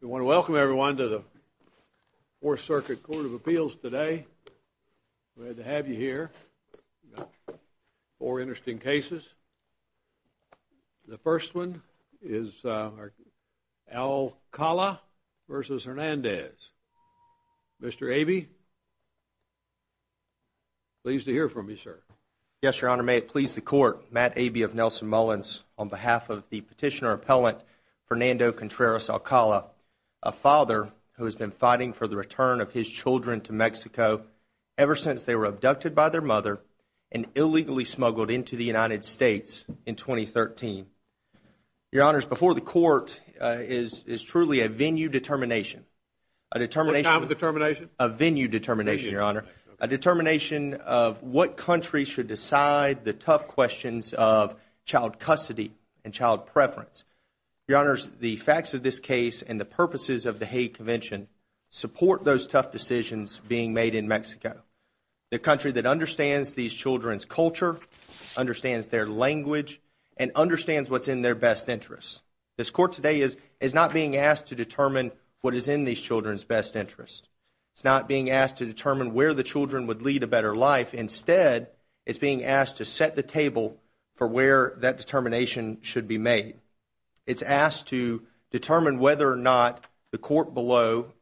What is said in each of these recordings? We want to welcome everyone to the 4th Circuit Court of Appeals today, glad to have you here. We've got four interesting cases. The first one is Alcala v. Hernandez. Mr. Abey, pleased to hear from you, sir. Yes, Your Honor, may it please the Court, Matt Abey of Nelson Mullins, on behalf of the Petitioner-Appellant Fernando Contreras Alcala, a father who has been fighting for the return of his children to Mexico ever since they were abducted by their mother and illegally smuggled into the United States in 2013. Your Honor, before the Court is truly a venue determination. A venue determination, Your Honor. A determination of what country should decide the tough questions of child custody and child preference. Your Honor, the facts of this case and the purposes of the Hague Convention support those tough decisions being made in Mexico. The country that understands these children's culture, understands their language, and understands what's in their best interest. This Court today is not being asked to determine what is in these children's best interest. It's not being asked to determine where the children would lead a better life. Instead, it's being asked to set the table for where that determination should be made. It's asked to determine whether or not the Court below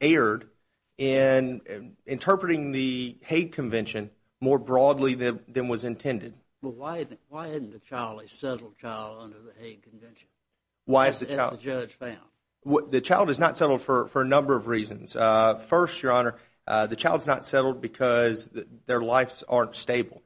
erred in interpreting the Hague Convention more broadly than was intended. Well, why isn't the child a settled child under the Hague Convention? Why is the child? As the judge found. The child is not settled for a number of reasons. First, Your Honor, the child's not settled because their lives aren't stable.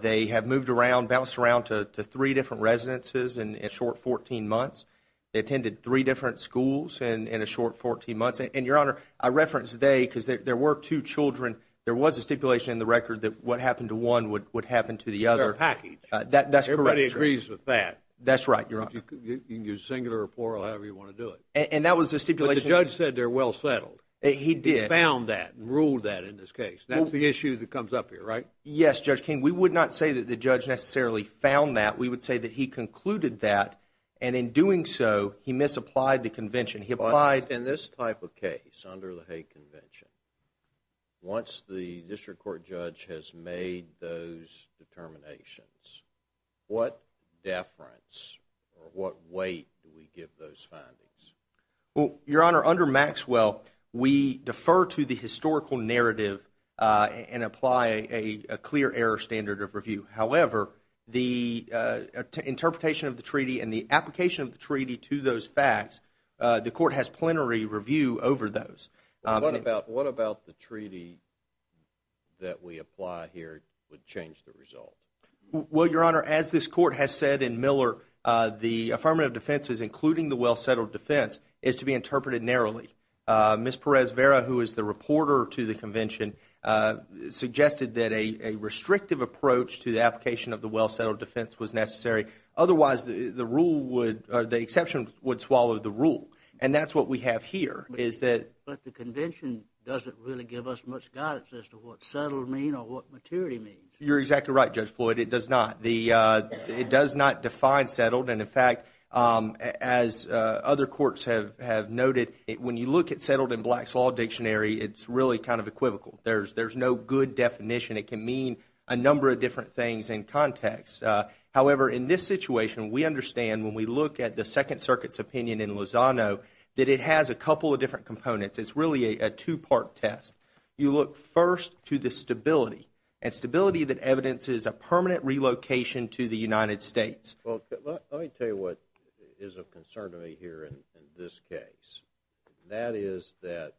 They have moved around, bounced around to three different residences in a short 14 months. They attended three different schools in a short 14 months. And, Your Honor, I referenced they because there were two children. There was a stipulation in the record that what happened to one would happen to the other. They're a package. That's correct. Everybody agrees with that. That's right, Your Honor. You can use singular or plural, however you want to do it. And that was a stipulation. But the judge said they're well settled. He did. He found that and ruled that in this case. That's the issue that comes up here, right? Yes, Judge King. We would not say that the judge necessarily found that. We would say that he concluded that, and in doing so, he misapplied the convention. But in this type of case, under the Hague Convention, once the district court judge has made those determinations, what deference or what weight do we give those findings? Well, Your Honor, under Maxwell, we defer to the historical narrative and apply a clear error standard of review. However, the interpretation of the treaty and the application of the treaty to those facts, the court has plenary review over those. What about the treaty that we apply here would change the result? Well, Your Honor, as this court has said in Miller, the affirmative defenses, including the well settled defense, is to be interpreted narrowly. Ms. Perez-Vera, who is the reporter to the convention, suggested that a restrictive approach to the application of the well settled defense was necessary. Otherwise, the rule would, or the exception would swallow the rule. And that's what we have here, is that… But the convention doesn't really give us much guidance as to what settled means or what maturity means. You're exactly right, Judge Floyd. It does not. It does not define settled. And, in fact, as other courts have noted, when you look at settled in Black's Law Dictionary, it's really kind of equivocal. There's no good definition. It can mean a number of different things in context. However, in this situation, we understand, when we look at the Second Circuit's opinion in Lozano, that it has a couple of different components. It's really a two-part test. You look first to the stability, and stability that evidences a permanent relocation to the United States. Well, let me tell you what is of concern to me here in this case. That is that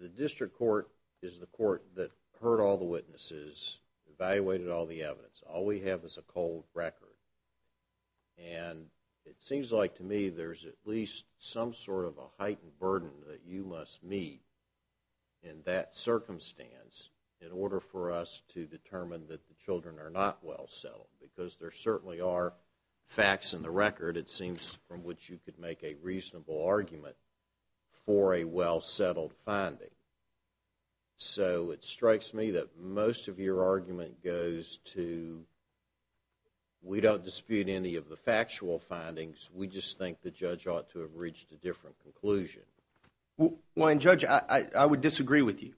the district court is the court that heard all the witnesses, evaluated all the evidence. All we have is a cold record. And it seems like to me there's at least some sort of a heightened burden that you must meet in that circumstance in order for us to determine that the children are not well settled. Because there certainly are facts in the record, it seems, from which you could make a reasonable argument for a well-settled finding. So it strikes me that most of your argument goes to, we don't dispute any of the factual findings. We just think the judge ought to have reached a different conclusion. Well, Judge, I would disagree with you.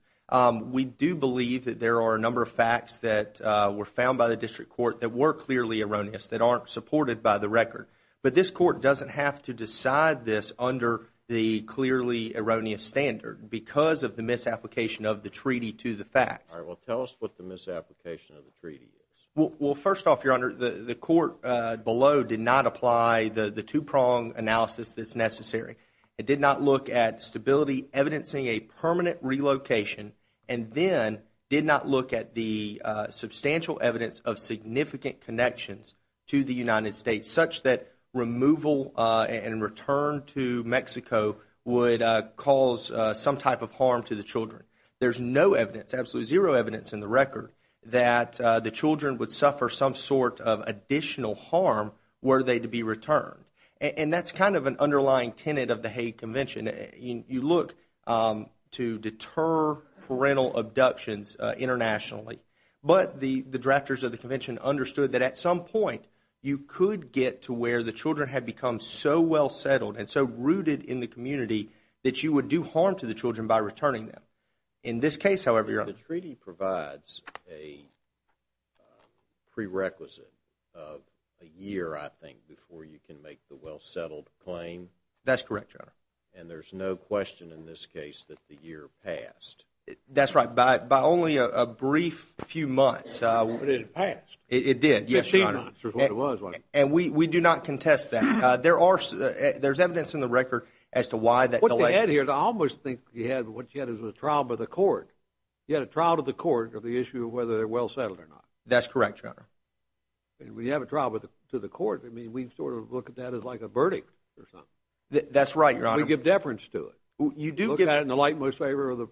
We do believe that there are a number of facts that were found by the district court that were clearly erroneous, that aren't supported by the record. But this court doesn't have to decide this under the clearly erroneous standard. Because of the misapplication of the treaty to the facts. All right, well, tell us what the misapplication of the treaty is. Well, first off, Your Honor, the court below did not apply the two-prong analysis that's necessary. It did not look at stability evidencing a permanent relocation. And then did not look at the substantial evidence of significant connections to the United States, such that removal and return to Mexico would cause some type of harm to the children. There's no evidence, absolutely zero evidence in the record, that the children would suffer some sort of additional harm were they to be returned. And that's kind of an underlying tenet of the Hague Convention. You look to deter parental abductions internationally. But the drafters of the convention understood that at some point, you could get to where the children had become so well settled and so rooted in the community, that you would do harm to the children by returning them. In this case, however, Your Honor. The treaty provides a prerequisite of a year, I think, before you can make the well settled claim. That's correct, Your Honor. And there's no question in this case that the year passed. That's right. By only a brief few months. But it passed. It did, yes, Your Honor. Fifteen months is what it was. And we do not contest that. There's evidence in the record as to why that delay. What you had here, I almost think you had what you had as a trial by the court. You had a trial to the court of the issue of whether they're well settled or not. That's correct, Your Honor. And when you have a trial to the court, I mean, we sort of look at that as like a verdict or something. That's right, Your Honor. We give deference to it. Look at it in the light most favorable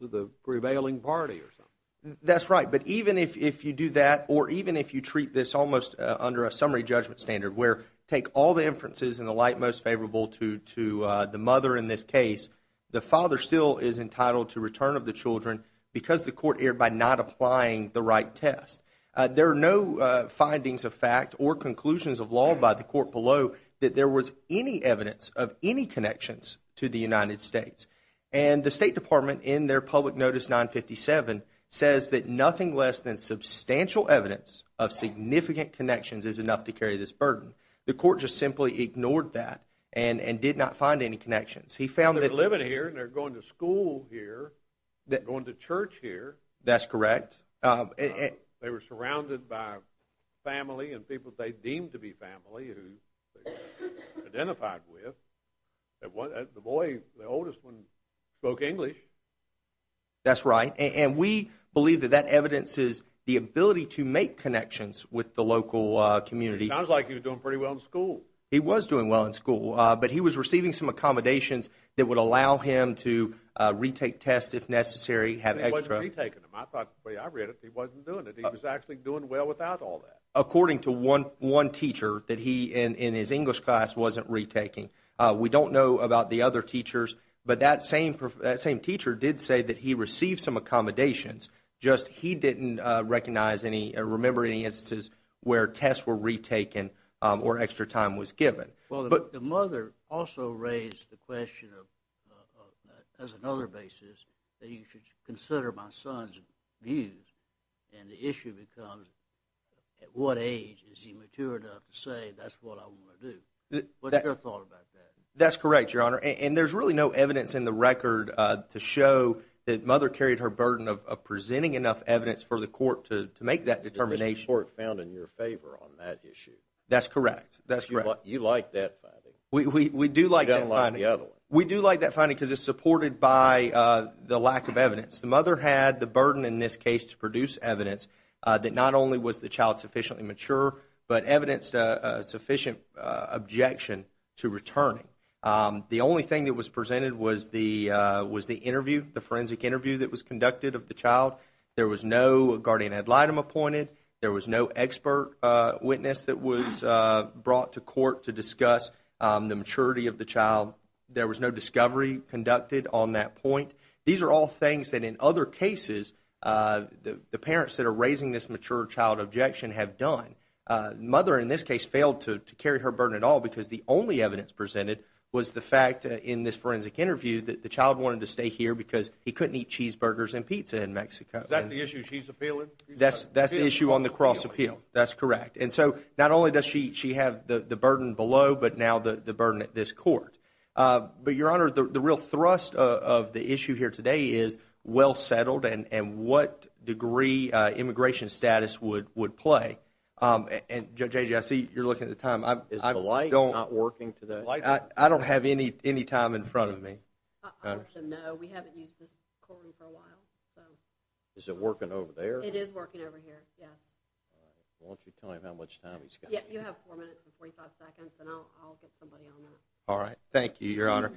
to the prevailing party or something. That's right. But even if you do that or even if you treat this almost under a summary judgment standard where take all the inferences in the light most favorable to the mother in this case, the father still is entitled to return of the children because the court erred by not applying the right test. There are no findings of fact or conclusions of law by the court below that there was any evidence of any connections to the United States. And the State Department in their public notice 957 says that nothing less than substantial evidence of significant connections is enough to carry this burden. The court just simply ignored that and did not find any connections. They're living here and they're going to school here, going to church here. That's correct. They were surrounded by family and people they deemed to be family who they identified with. The boy, the oldest one, spoke English. That's right. And we believe that that evidences the ability to make connections with the local community. It sounds like he was doing pretty well in school. He was doing well in school. But he was receiving some accommodations that would allow him to retake tests if necessary, have extra. I thought when I read it, he wasn't doing it. He was actually doing well without all that. According to one teacher that he, in his English class, wasn't retaking. We don't know about the other teachers, but that same teacher did say that he received some accommodations, just he didn't recognize any or remember any instances where tests were retaken or extra time was given. Well, the mother also raised the question as another basis that you should consider my son's views. And the issue becomes at what age is he mature enough to say that's what I want to do? What's your thought about that? That's correct, Your Honor. And there's really no evidence in the record to show that Mother carried her burden of presenting enough evidence for the court to make that determination. The court found in your favor on that issue. That's correct. You like that finding. We do like that finding. You don't like the other one. We do like that finding because it's supported by the lack of evidence. The mother had the burden in this case to produce evidence that not only was the child sufficiently mature, but evidenced a sufficient objection to returning. The only thing that was presented was the interview, the forensic interview that was conducted of the child. There was no guardian ad litem appointed. There was no expert witness that was brought to court to discuss the maturity of the child. There was no discovery conducted on that point. These are all things that in other cases the parents that are raising this mature child objection have done. The mother in this case failed to carry her burden at all because the only evidence presented was the fact in this forensic interview that the child wanted to stay here because he couldn't eat cheeseburgers and pizza in Mexico. Is that the issue she's appealing? That's the issue on the cross appeal. That's correct. And so not only does she have the burden below, but now the burden at this court. But, Your Honor, the real thrust of the issue here today is well settled and what degree immigration status would play. And, J.J., I see you're looking at the time. Is the light not working today? I don't have any time in front of me. No, we haven't used this courtroom for a while. Is it working over there? It is working over here, yes. Why don't you tell him how much time he's got? You have four minutes and 45 seconds, and I'll get somebody on that. All right. Thank you, Your Honor.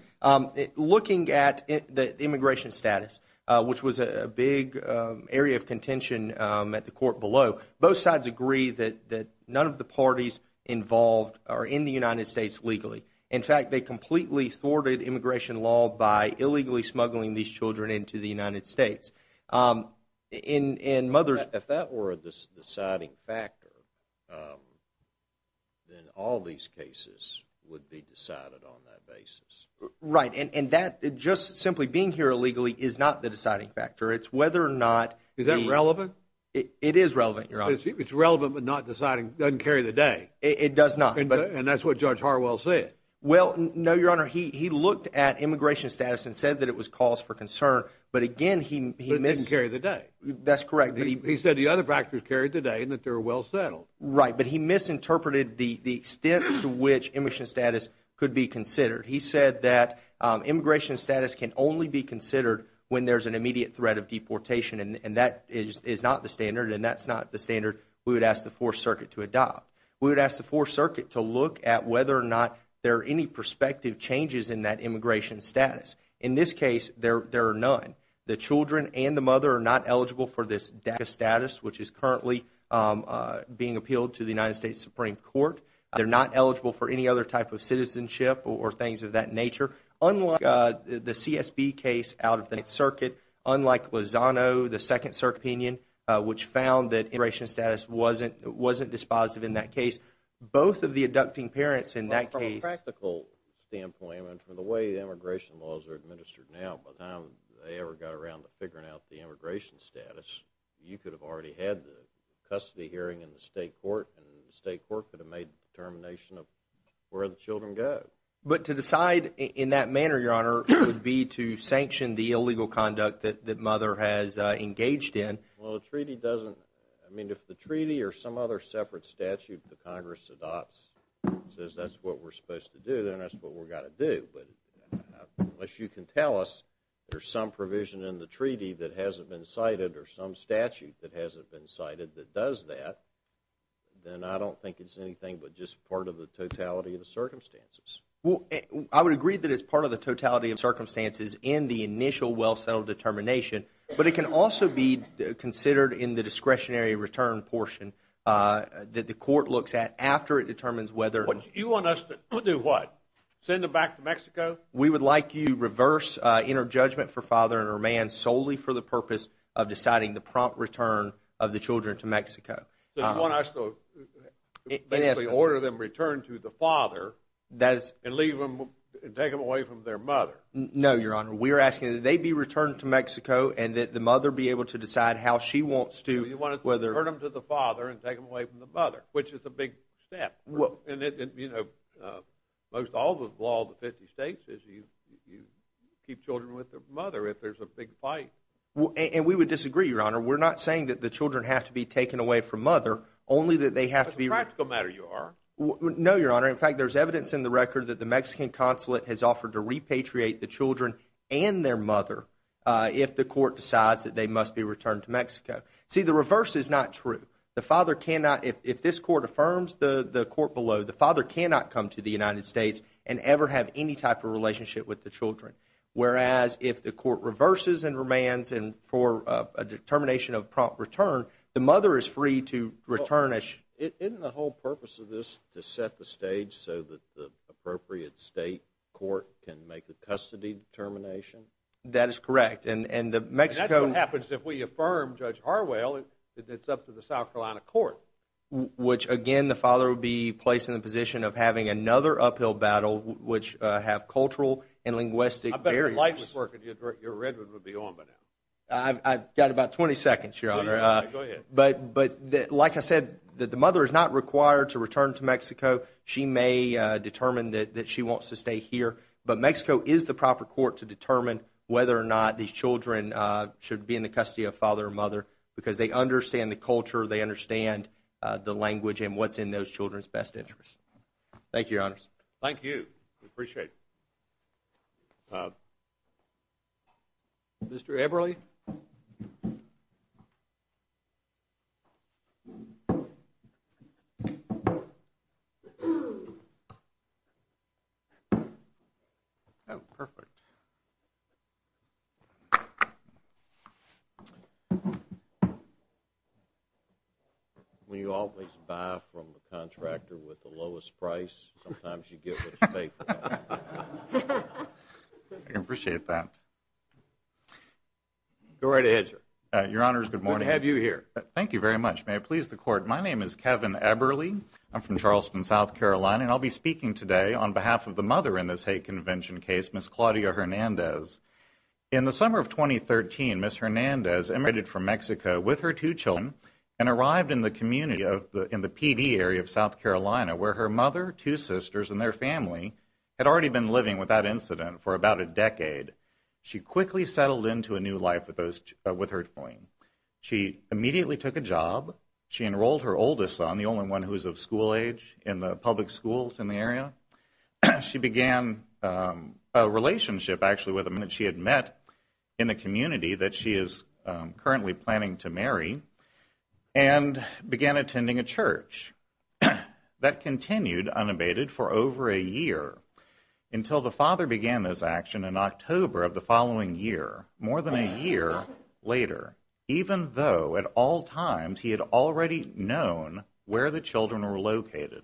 Looking at the immigration status, which was a big area of contention at the court below, both sides agree that none of the parties involved are in the United States legally. In fact, they completely thwarted immigration law by illegally smuggling these children into the United States. If that were a deciding factor, then all these cases would be decided on that basis. Right. And just simply being here illegally is not the deciding factor. Is that relevant? It is relevant, Your Honor. It's relevant but not deciding, doesn't carry the day. It does not. And that's what Judge Harwell said. Well, no, Your Honor. He looked at immigration status and said that it was cause for concern. But again, he missed— But it didn't carry the day. That's correct. He said the other factors carried the day and that they were well settled. Right. But he misinterpreted the extent to which immigration status could be considered. He said that immigration status can only be considered when there's an immediate threat of deportation, and that is not the standard, and that's not the standard we would ask the Fourth Circuit to adopt. We would ask the Fourth Circuit to look at whether or not there are any prospective changes in that immigration status. In this case, there are none. The children and the mother are not eligible for this DACA status, which is currently being appealed to the United States Supreme Court. They're not eligible for any other type of citizenship or things of that nature. Unlike the CSB case out of the Ninth Circuit, unlike Lozano, the Second Circuit opinion, which found that immigration status wasn't dispositive in that case, both of the abducting parents in that case— Well, from a practical standpoint and from the way immigration laws are administered now, by the time they ever got around to figuring out the immigration status, you could have already had the custody hearing in the state court, and the state court could have made the determination of where the children go. But to decide in that manner, Your Honor, would be to sanction the illegal conduct that the mother has engaged in. Well, the treaty doesn't—I mean, if the treaty or some other separate statute the Congress adopts says that's what we're supposed to do, then that's what we've got to do. But unless you can tell us there's some provision in the treaty that hasn't been cited or some statute that hasn't been cited that does that, then I don't think it's anything but just part of the totality of the circumstances. Well, I would agree that it's part of the totality of the circumstances in the initial well-settled determination, but it can also be considered in the discretionary return portion that the court looks at after it determines whether— You want us to do what? Send them back to Mexico? We would like you to reverse inner judgment for father and her man solely for the purpose of deciding the prompt return of the children to Mexico. So you want us to basically order them to return to the father and take them away from their mother? No, Your Honor. We're asking that they be returned to Mexico and that the mother be able to decide how she wants to— You want us to turn them to the father and take them away from the mother, which is a big step. And, you know, most all the law of the 50 states is you keep children with their mother if there's a big fight. And we would disagree, Your Honor. We're not saying that the children have to be taken away from mother, only that they have to be— No, Your Honor. In fact, there's evidence in the record that the Mexican consulate has offered to repatriate the children and their mother if the court decides that they must be returned to Mexico. See, the reverse is not true. The father cannot—if this court affirms the court below, the father cannot come to the United States and ever have any type of relationship with the children. Whereas if the court reverses and remands for a determination of prompt return, the mother is free to return as— Isn't the whole purpose of this to set the stage so that the appropriate state court can make a custody determination? That is correct. And the Mexican— And that's what happens if we affirm, Judge Harwell, that it's up to the South Carolina court. Which, again, the father would be placed in the position of having another uphill battle, which have cultural and linguistic barriers. I bet the light would work if your red would be on by now. I've got about 20 seconds, Your Honor. Go ahead. But, like I said, the mother is not required to return to Mexico. She may determine that she wants to stay here. But Mexico is the proper court to determine whether or not these children should be in the custody of father or mother because they understand the culture, they understand the language, and what's in those children's best interest. Thank you, Your Honors. Thank you. We appreciate it. Mr. Everly? Oh, perfect. When you always buy from a contractor with the lowest price, sometimes you get what you pay for. I appreciate that. Go right ahead, sir. Your Honors, good morning. Good to have you here. Thank you very much. May it please the Court, my name is Kevin Everly. I'm from Charleston, South Carolina, and I'll be speaking today on behalf of the mother in this hate convention case, Ms. Claudia Hernandez. In the summer of 2013, Ms. Hernandez emigrated from Mexico with her two children and arrived in the community in the PD area of South Carolina where her mother, two sisters, and their family had already been living with that incident for about a decade. She quickly settled into a new life with her twin. She immediately took a job. She enrolled her oldest son, the only one who was of school age, in the public schools in the area. She began a relationship, actually, with a man she had met in the community that she is currently planning to marry and began attending a church. That continued unabated for over a year until the father began this action in October of the following year, more than a year later, even though at all times he had already known where the children were located.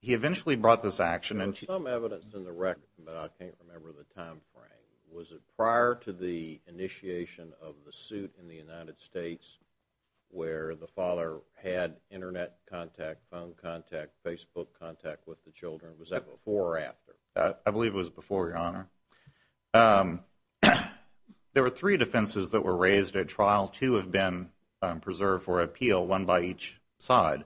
He eventually brought this action in. There's some evidence in the record, but I can't remember the time frame. Was it prior to the initiation of the suit in the United States where the father had Internet contact, phone contact, Facebook contact with the children? I believe it was before, Your Honor. There were three defenses that were raised at trial. Two have been preserved for appeal, one by each side.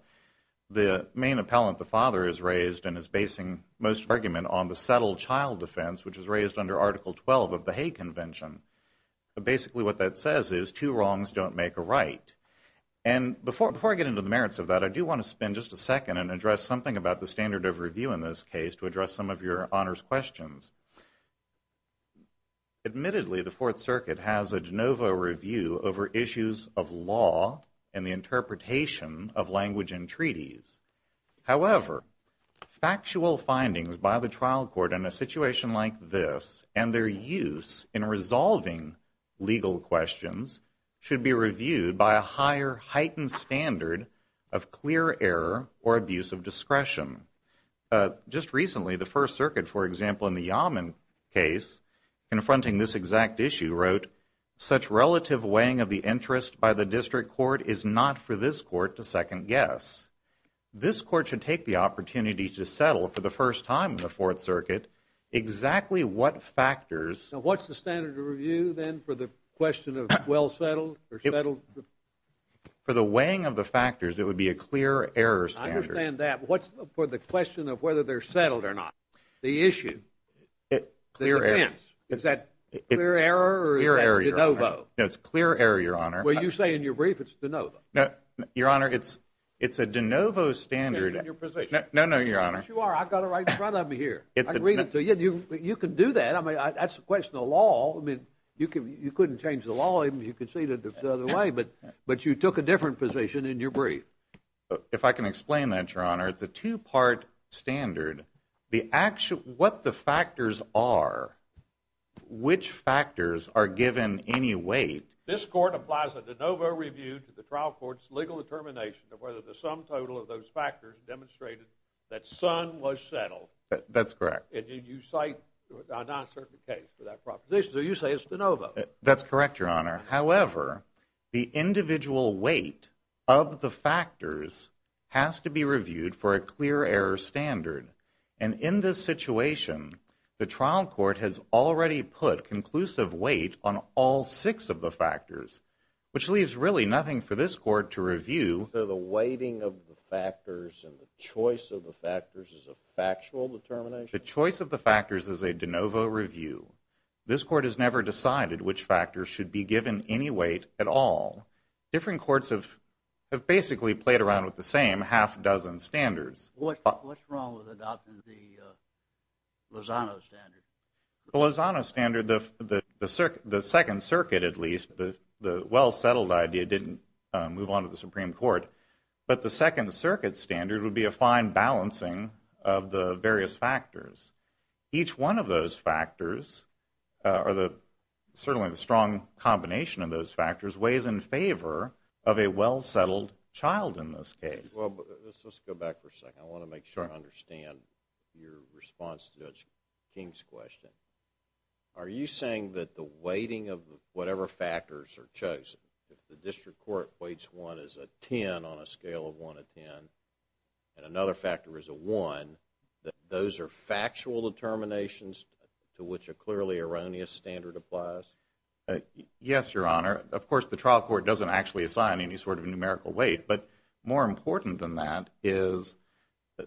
The main appellant, the father, is raised and is basing most of the argument on the settled child defense, which was raised under Article 12 of the Hague Convention. Basically what that says is two wrongs don't make a right. Before I get into the merits of that, I do want to spend just a second and address something about the standard of review in this case to address some of Your Honor's questions. Admittedly, the Fourth Circuit has a de novo review over issues of law and the interpretation of language and treaties. However, factual findings by the trial court in a situation like this and their use in resolving legal questions should be reviewed by a higher heightened standard of clear error or abuse of discretion. Just recently, the First Circuit, for example, in the Yaman case, confronting this exact issue, wrote, such relative weighing of the interest by the district court is not for this court to second guess. This court should take the opportunity to settle for the first time in the Fourth Circuit exactly what factors. So what's the standard of review then for the question of well settled or settled? For the weighing of the factors, it would be a clear error standard. I understand that. What's for the question of whether they're settled or not? The issue. Clear error. Is that clear error or is that de novo? No, it's clear error, Your Honor. Well, you say in your brief it's de novo. No, Your Honor, it's a de novo standard. In your position. No, no, Your Honor. Yes, you are. I've got it right in front of me here. I can read it to you. You can do that. I mean, that's a question of law. I mean, you couldn't change the law even if you could see it the other way, but you took a different position in your brief. If I can explain that, Your Honor, it's a two-part standard. What the factors are, which factors are given any weight. This court applies a de novo review to the trial court's legal determination of whether the sum total of those factors demonstrated that son was settled. That's correct. And you cite a non-certain case for that proposition. So you say it's de novo. That's correct, Your Honor. However, the individual weight of the factors has to be reviewed for a clear error standard. And in this situation, the trial court has already put conclusive weight on all six of the factors, which leaves really nothing for this court to review. So the weighting of the factors and the choice of the factors is a factual determination? The choice of the factors is a de novo review. This court has never decided which factors should be given any weight at all. Different courts have basically played around with the same half-dozen standards. What's wrong with adopting the Lozano standard? The Lozano standard, the Second Circuit, at least, the well-settled idea, didn't move on to the Supreme Court. But the Second Circuit standard would be a fine balancing of the various factors. Each one of those factors, or certainly the strong combination of those factors, weighs in favor of a well-settled child in this case. Well, let's go back for a second. I want to make sure I understand your response to Judge King's question. Are you saying that the weighting of whatever factors are chosen, if the district court weights one as a 10 on a scale of 1 to 10 and another factor is a 1, that those are factual determinations to which a clearly erroneous standard applies? Yes, Your Honor. Of course, the trial court doesn't actually assign any sort of numerical weight. But more important than that is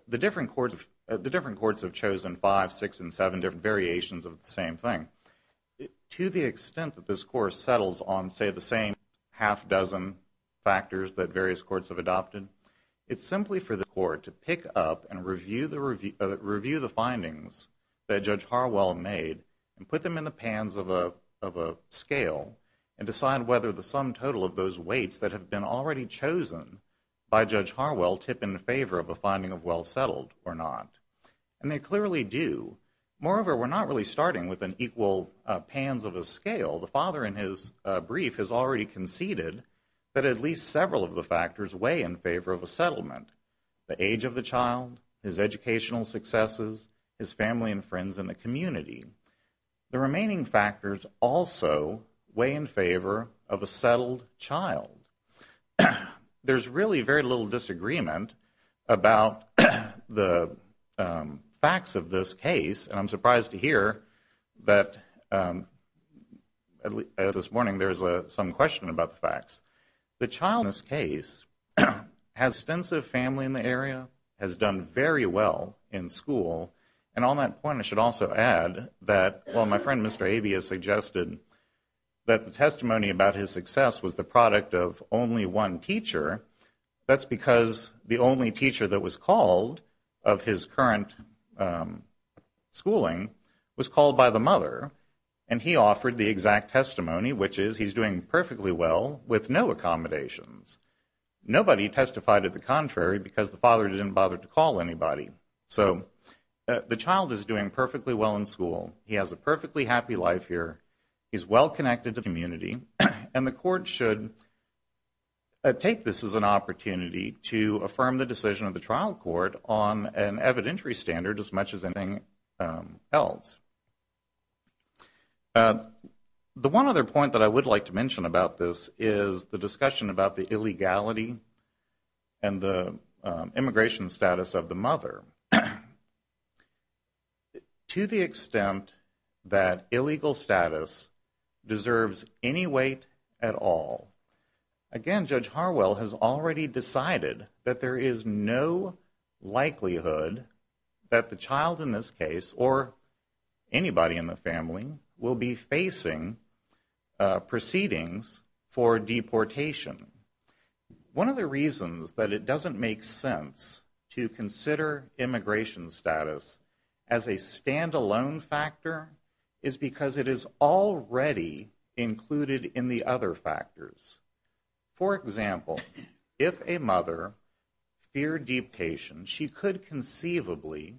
the different courts have chosen five, six, and seven different variations of the same thing. To the extent that this Court settles on, say, the same half-dozen factors that various courts have adopted, it's simply for the Court to pick up and review the findings that Judge Harwell made and put them in the pans of a scale and decide whether the sum total of those weights that have been already chosen by Judge Harwell tip in favor of a finding of well-settled or not. And they clearly do. Moreover, we're not really starting with an equal pans of a scale. The father in his brief has already conceded that at least several of the factors weigh in favor of a settlement. The age of the child, his educational successes, his family and friends in the community. The remaining factors also weigh in favor of a settled child. There's really very little disagreement about the facts of this case. And I'm surprised to hear that this morning there's some question about the facts. The child in this case has extensive family in the area, has done very well in school. And on that point, I should also add that while my friend Mr. Abia suggested that the testimony about his success was the product of only one teacher, that's because the only teacher that was called of his current schooling was called by the mother. And he offered the exact testimony, which is he's doing perfectly well with no accommodations. Nobody testified to the contrary because the father didn't bother to call anybody. So the child is doing perfectly well in school. He has a perfectly happy life here. He's well connected to the community. And the court should take this as an opportunity to affirm the decision of the trial court on an evidentiary standard as much as anything else. The one other point that I would like to mention about this is the discussion about the illegality To the extent that illegal status deserves any weight at all. Again, Judge Harwell has already decided that there is no likelihood that the child in this case, or anybody in the family, will be facing proceedings for deportation. One of the reasons that it doesn't make sense to consider immigration status as a stand-alone factor is because it is already included in the other factors. For example, if a mother feared deportation, she could conceivably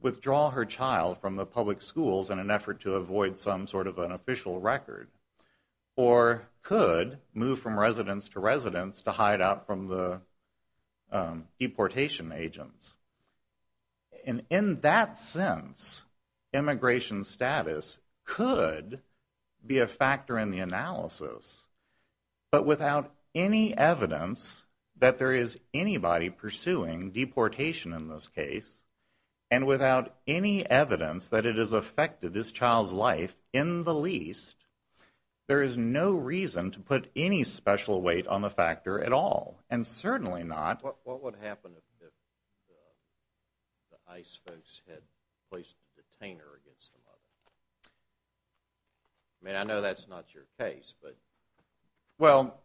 withdraw her child from the public schools in an effort to avoid some sort of an official record. Or could move from residence to residence to hide out from the deportation agents. And in that sense, immigration status could be a factor in the analysis. But without any evidence that there is anybody pursuing deportation in this case, and without any evidence that it has affected this child's life in the least, there is no reason to put any special weight on the factor at all. And certainly not... What would happen if the ICE folks had placed a detainer against the mother? I mean, I know that's not your case, but... Well,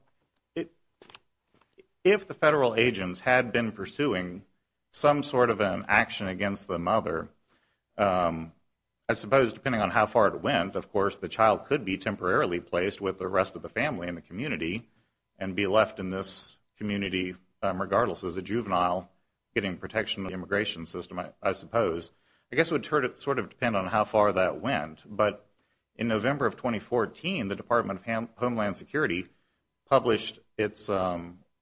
if the federal agents had been pursuing some sort of an action against the mother, I suppose depending on how far it went, of course, the child could be temporarily placed with the rest of the family in the community and be left in this community regardless. As a juvenile getting protection in the immigration system, I suppose. I guess it would sort of depend on how far that went. But in November of 2014, the Department of Homeland Security published its...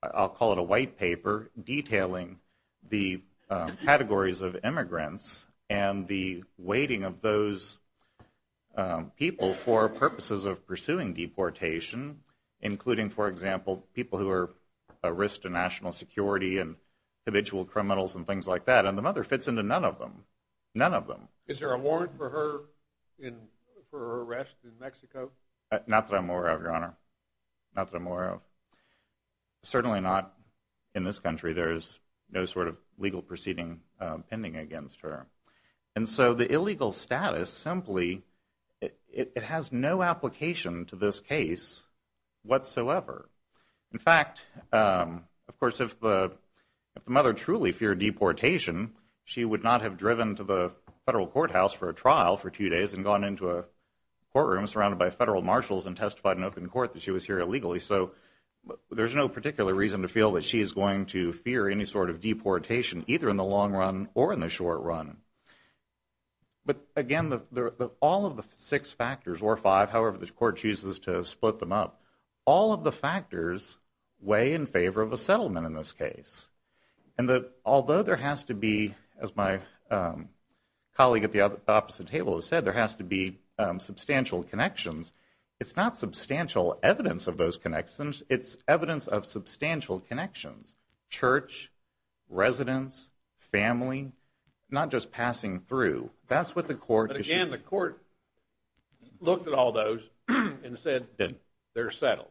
I'll call it a white paper detailing the categories of immigrants and the weighting of those people for purposes of pursuing deportation, including, for example, people who are a risk to national security and habitual criminals and things like that. And the mother fits into none of them. None of them. Is there a warrant for her arrest in Mexico? Not that I'm aware of, Your Honor. Not that I'm aware of. Certainly not in this country. There is no sort of legal proceeding pending against her. And so the illegal status simply... It has no application to this case whatsoever. In fact, of course, if the mother truly feared deportation, she would not have driven to the federal courthouse for a trial for two days and gone into a courtroom surrounded by federal marshals and testified in open court that she was here illegally. So there's no particular reason to feel that she is going to fear any sort of deportation, either in the long run or in the short run. But, again, all of the six factors, or five, however the court chooses to split them up, all of the factors weigh in favor of a settlement in this case. And although there has to be, as my colleague at the opposite table has said, there has to be substantial connections, it's not substantial evidence of those connections, it's evidence of substantial connections. Church, residence, family, not just passing through. That's what the court... But, again, the court looked at all those and said they're settled.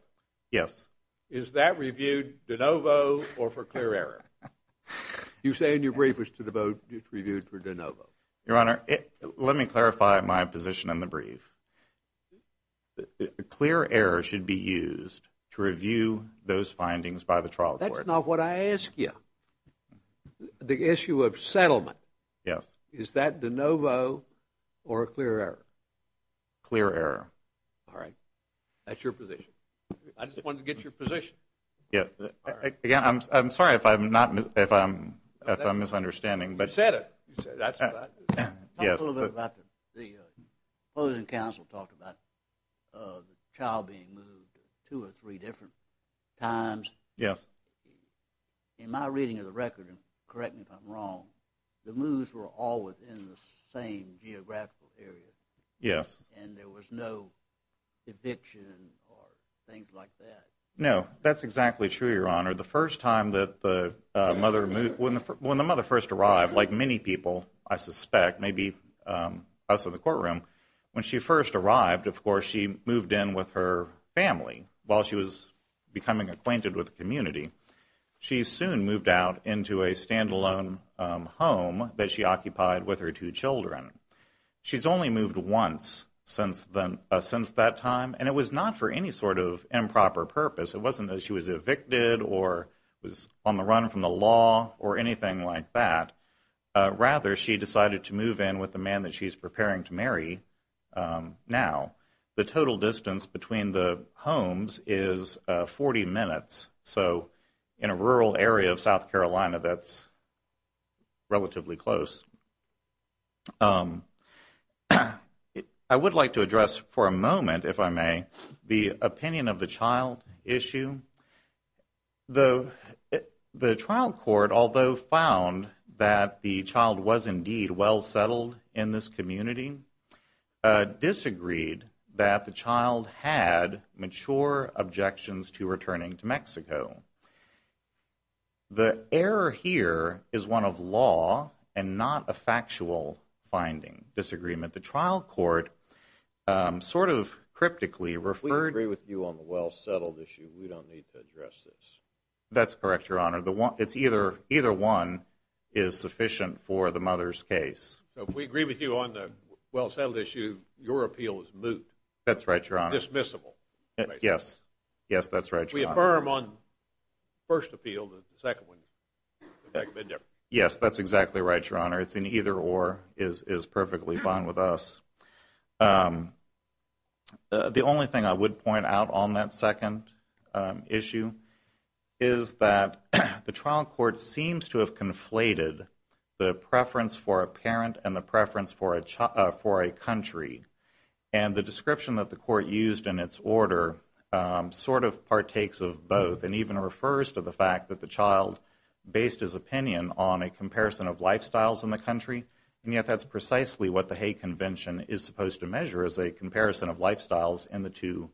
Yes. Is that reviewed de novo or for clear error? You say in your brief it's reviewed for de novo. Your Honor, let me clarify my position in the brief. A clear error should be used to review those findings by the trial court. That's not what I asked you. The issue of settlement. Yes. Is that de novo or a clear error? Clear error. All right. That's your position. I just wanted to get your position. Yes. Again, I'm sorry if I'm misunderstanding. You said it. Yes. The opposing counsel talked about the child being moved two or three different times. Yes. In my reading of the record, and correct me if I'm wrong, the moves were all within the same geographical area. Yes. And there was no eviction or things like that. No. That's exactly true, Your Honor. The first time that the mother moved, when the mother first arrived, like many people I suspect, maybe us in the courtroom, when she first arrived, of course, she moved in with her family while she was becoming acquainted with the community. She soon moved out into a standalone home that she occupied with her two children. She's only moved once since that time, and it was not for any sort of improper purpose. It wasn't that she was evicted or was on the run from the law or anything like that. Rather, she decided to move in with the man that she's preparing to marry now. The total distance between the homes is 40 minutes. So in a rural area of South Carolina, that's relatively close. I would like to address for a moment, if I may, the opinion of the child issue. The trial court, although found that the child was indeed well settled in this community, disagreed that the child had mature objections to returning to Mexico. The error here is one of law and not a factual finding. Disagreement. The trial court sort of cryptically referred to We agree with you on the well settled issue. We don't need to address this. That's correct, Your Honor. Either one is sufficient for the mother's case. So if we agree with you on the well settled issue, your appeal is moot. That's right, Your Honor. Dismissible. Yes. Yes, that's right, Your Honor. We affirm on the first appeal, the second one. Yes, that's exactly right, Your Honor. It's an either or. It is perfectly fine with us. The only thing I would point out on that second issue is that the trial court seems to have conflated the preference for a parent and the preference for a country. And the description that the court used in its order sort of partakes of both and even refers to the fact that the child based his opinion on a comparison of lifestyles in the country, and yet that's precisely what the Hay Convention is supposed to measure as a comparison of lifestyles in the two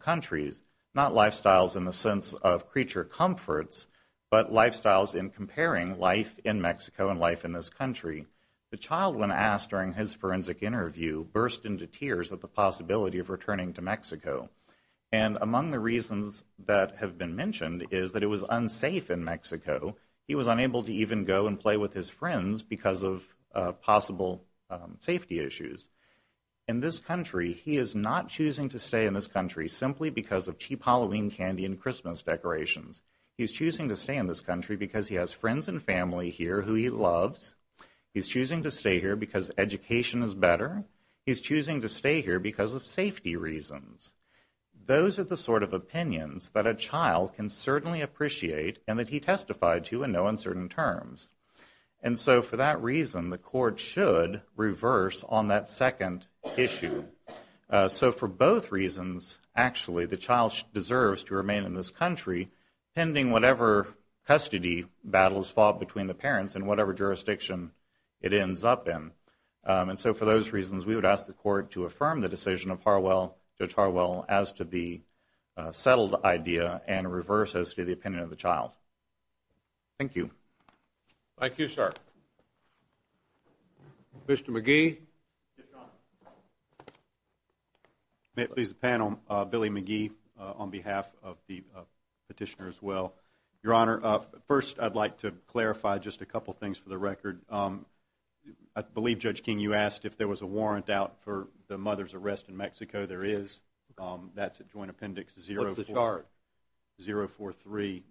countries, not lifestyles in the sense of creature comforts, but lifestyles in comparing life in Mexico and life in this country. The child, when asked during his forensic interview, burst into tears at the possibility of returning to Mexico. And among the reasons that have been mentioned is that it was unsafe in Mexico. He was unable to even go and play with his friends because of possible safety issues. In this country, he is not choosing to stay in this country simply because of cheap Halloween candy and Christmas decorations. He's choosing to stay in this country because he has friends and family here who he loves. He's choosing to stay here because education is better. He's choosing to stay here because of safety reasons. Those are the sort of opinions that a child can certainly appreciate and that he testified to and know in certain terms. And so for that reason, the court should reverse on that second issue. So for both reasons, actually, the child deserves to remain in this country pending whatever custody battles fought between the parents in whatever jurisdiction it ends up in. And so for those reasons, we would ask the court to affirm the decision of Judge Harwell as to the settled idea and reverse as to the opinion of the child. Thank you. Thank you, sir. Mr. McGee? Yes, Your Honor. May it please the panel, Billy McGee on behalf of the petitioner as well. Your Honor, first I'd like to clarify just a couple things for the record. I believe, Judge King, you asked if there was a warrant out for the mother's arrest in Mexico. There is. That's at Joint Appendix 043.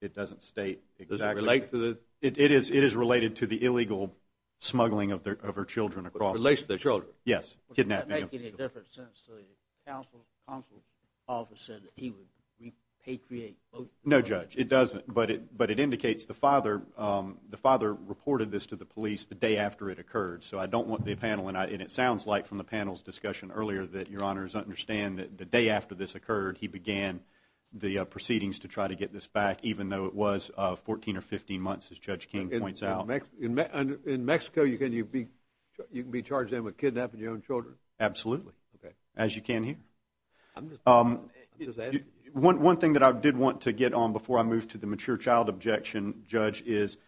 It doesn't state exactly. Does it relate to the? It is related to the illegal smuggling of her children across. Relates to their children? Yes. Kidnapping them. Does that make any difference since the counsel office said that he would repatriate both? No, Judge, it doesn't. But it indicates the father reported this to the police the day after it occurred. So I don't want the panel, and it sounds like from the panel's discussion earlier that, Your Honor, understand that the day after this occurred, he began the proceedings to try to get this back, even though it was 14 or 15 months, as Judge King points out. In Mexico, you can be charged with kidnapping your own children? Absolutely, as you can hear. One thing that I did want to get on before I move to the mature child objection, Judge, is,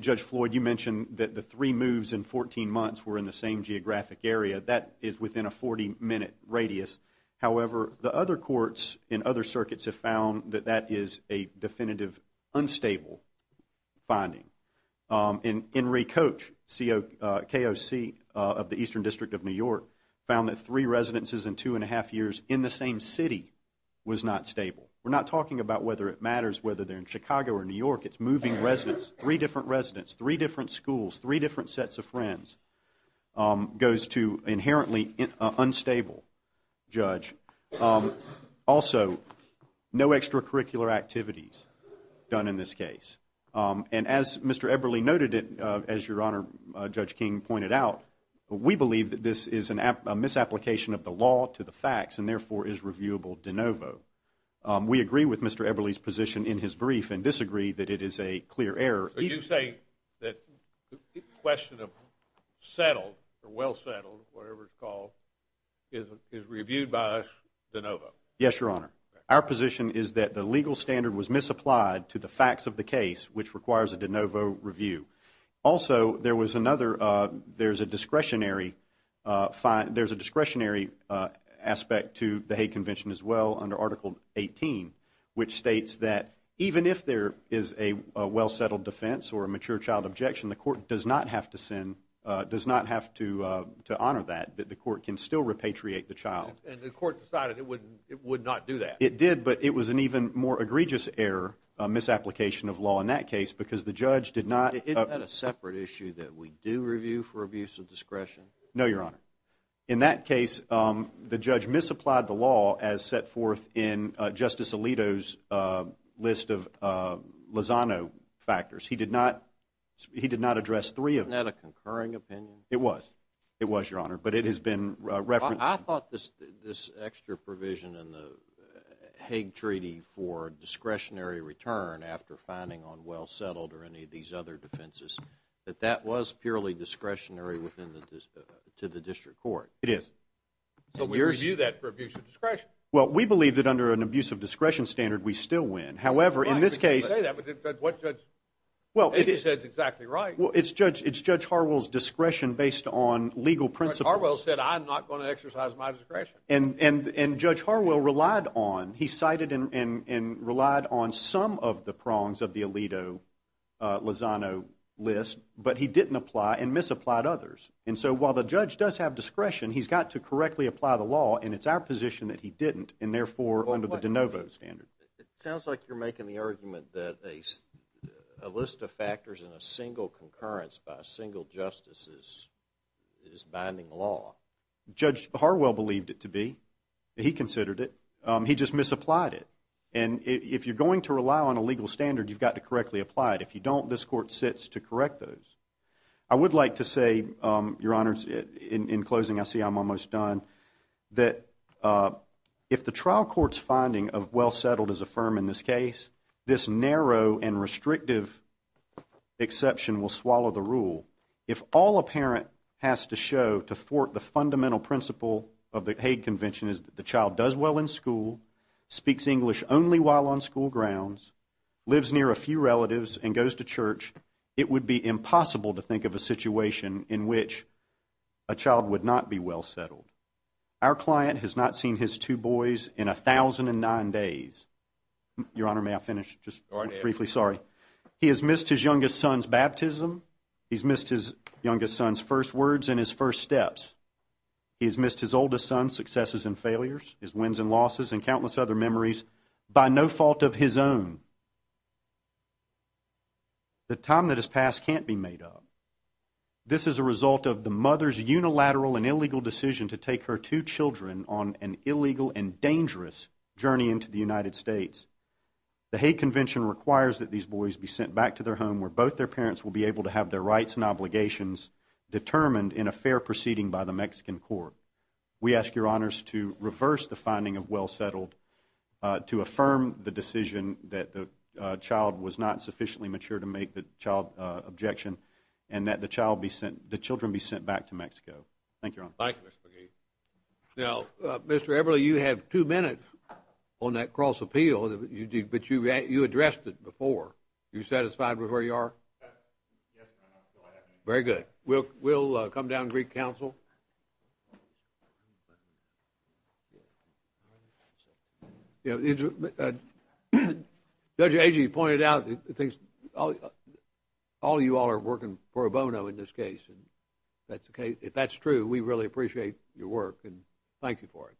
Judge Floyd, you mentioned that the three moves in 14 months were in the same geographic area. That is within a 40-minute radius. However, the other courts in other circuits have found that that is a definitive unstable finding. And Henry Koch, KOC of the Eastern District of New York, found that three residences in two and a half years in the same city was not stable. We're not talking about whether it matters whether they're in Chicago or New York. It's moving residents, three different residents, three different schools, three different sets of friends, goes to inherently unstable, Judge. Also, no extracurricular activities done in this case. And as Mr. Eberle noted, as Your Honor, Judge King pointed out, we believe that this is a misapplication of the law to the facts and, therefore, is reviewable de novo. We agree with Mr. Eberle's position in his brief and disagree that it is a clear error. Are you saying that the question of settled or well settled, whatever it's called, is reviewed by us de novo? Yes, Your Honor. Our position is that the legal standard was misapplied to the facts of the case, which requires a de novo review. Also, there was another, there's a discretionary aspect to the Hague Convention as well under Article 18, which states that even if there is a well settled defense or a mature child objection, the court does not have to honor that, that the court can still repatriate the child. And the court decided it would not do that? It did, but it was an even more egregious error, a misapplication of law in that case, because the judge did not- Isn't that a separate issue that we do review for abuse of discretion? No, Your Honor. In that case, the judge misapplied the law as set forth in Justice Alito's list of Lozano factors. He did not address three of them. Isn't that a concurring opinion? It was. It was, Your Honor, but it has been referenced- I thought this extra provision in the Hague Treaty for discretionary return after finding on well settled or any of these other defenses, that that was purely discretionary to the district court. It is. But we review that for abuse of discretion. Well, we believe that under an abuse of discretion standard, we still win. However, in this case- I didn't say that, but what the judge said is exactly right. Well, it's Judge Harwell's discretion based on legal principles. But Harwell said, I'm not going to exercise my discretion. And Judge Harwell relied on, he cited and relied on some of the prongs of the Alito Lozano list, but he didn't apply and misapplied others. And so while the judge does have discretion, he's got to correctly apply the law, and it's our position that he didn't, and therefore under the de novo standard. It sounds like you're making the argument that a list of factors in a single concurrence by a single justice is binding law. Judge Harwell believed it to be. He considered it. He just misapplied it. And if you're going to rely on a legal standard, you've got to correctly apply it. If you don't, this court sits to correct those. I would like to say, Your Honors, in closing, I see I'm almost done, that if the trial court's finding of well settled is affirmed in this case, this narrow and restrictive exception will swallow the rule. If all a parent has to show to thwart the fundamental principle of the Hague Convention is that the child does well in school, speaks English only while on school grounds, lives near a few relatives, and goes to church, it would be impossible to think of a situation in which a child would not be well settled. Our client has not seen his two boys in 1,009 days. Your Honor, may I finish just briefly? Sorry. He has missed his youngest son's baptism. He has missed his youngest son's first words and his first steps. He has missed his oldest son's successes and failures, his wins and losses, and countless other memories by no fault of his own. The time that has passed can't be made up. This is a result of the mother's unilateral and illegal decision to take her two children on an illegal and dangerous journey into the United States. The Hague Convention requires that these boys be sent back to their home where both their parents will be able to have their rights and obligations determined in a fair proceeding by the Mexican court. We ask your Honors to reverse the finding of well settled to affirm the decision that the child was not sufficiently mature to make the child objection and that the children be sent back to Mexico. Thank you, Your Honor. Thank you, Mr. McGee. Now, Mr. Everly, you have two minutes on that cross appeal, but you addressed it before. Are you satisfied with where you are? Very good. We'll come down to Greek Council. Judge Agee pointed out that all of you all are working for a bono in this case. If that's true, we really appreciate your work and thank you for it.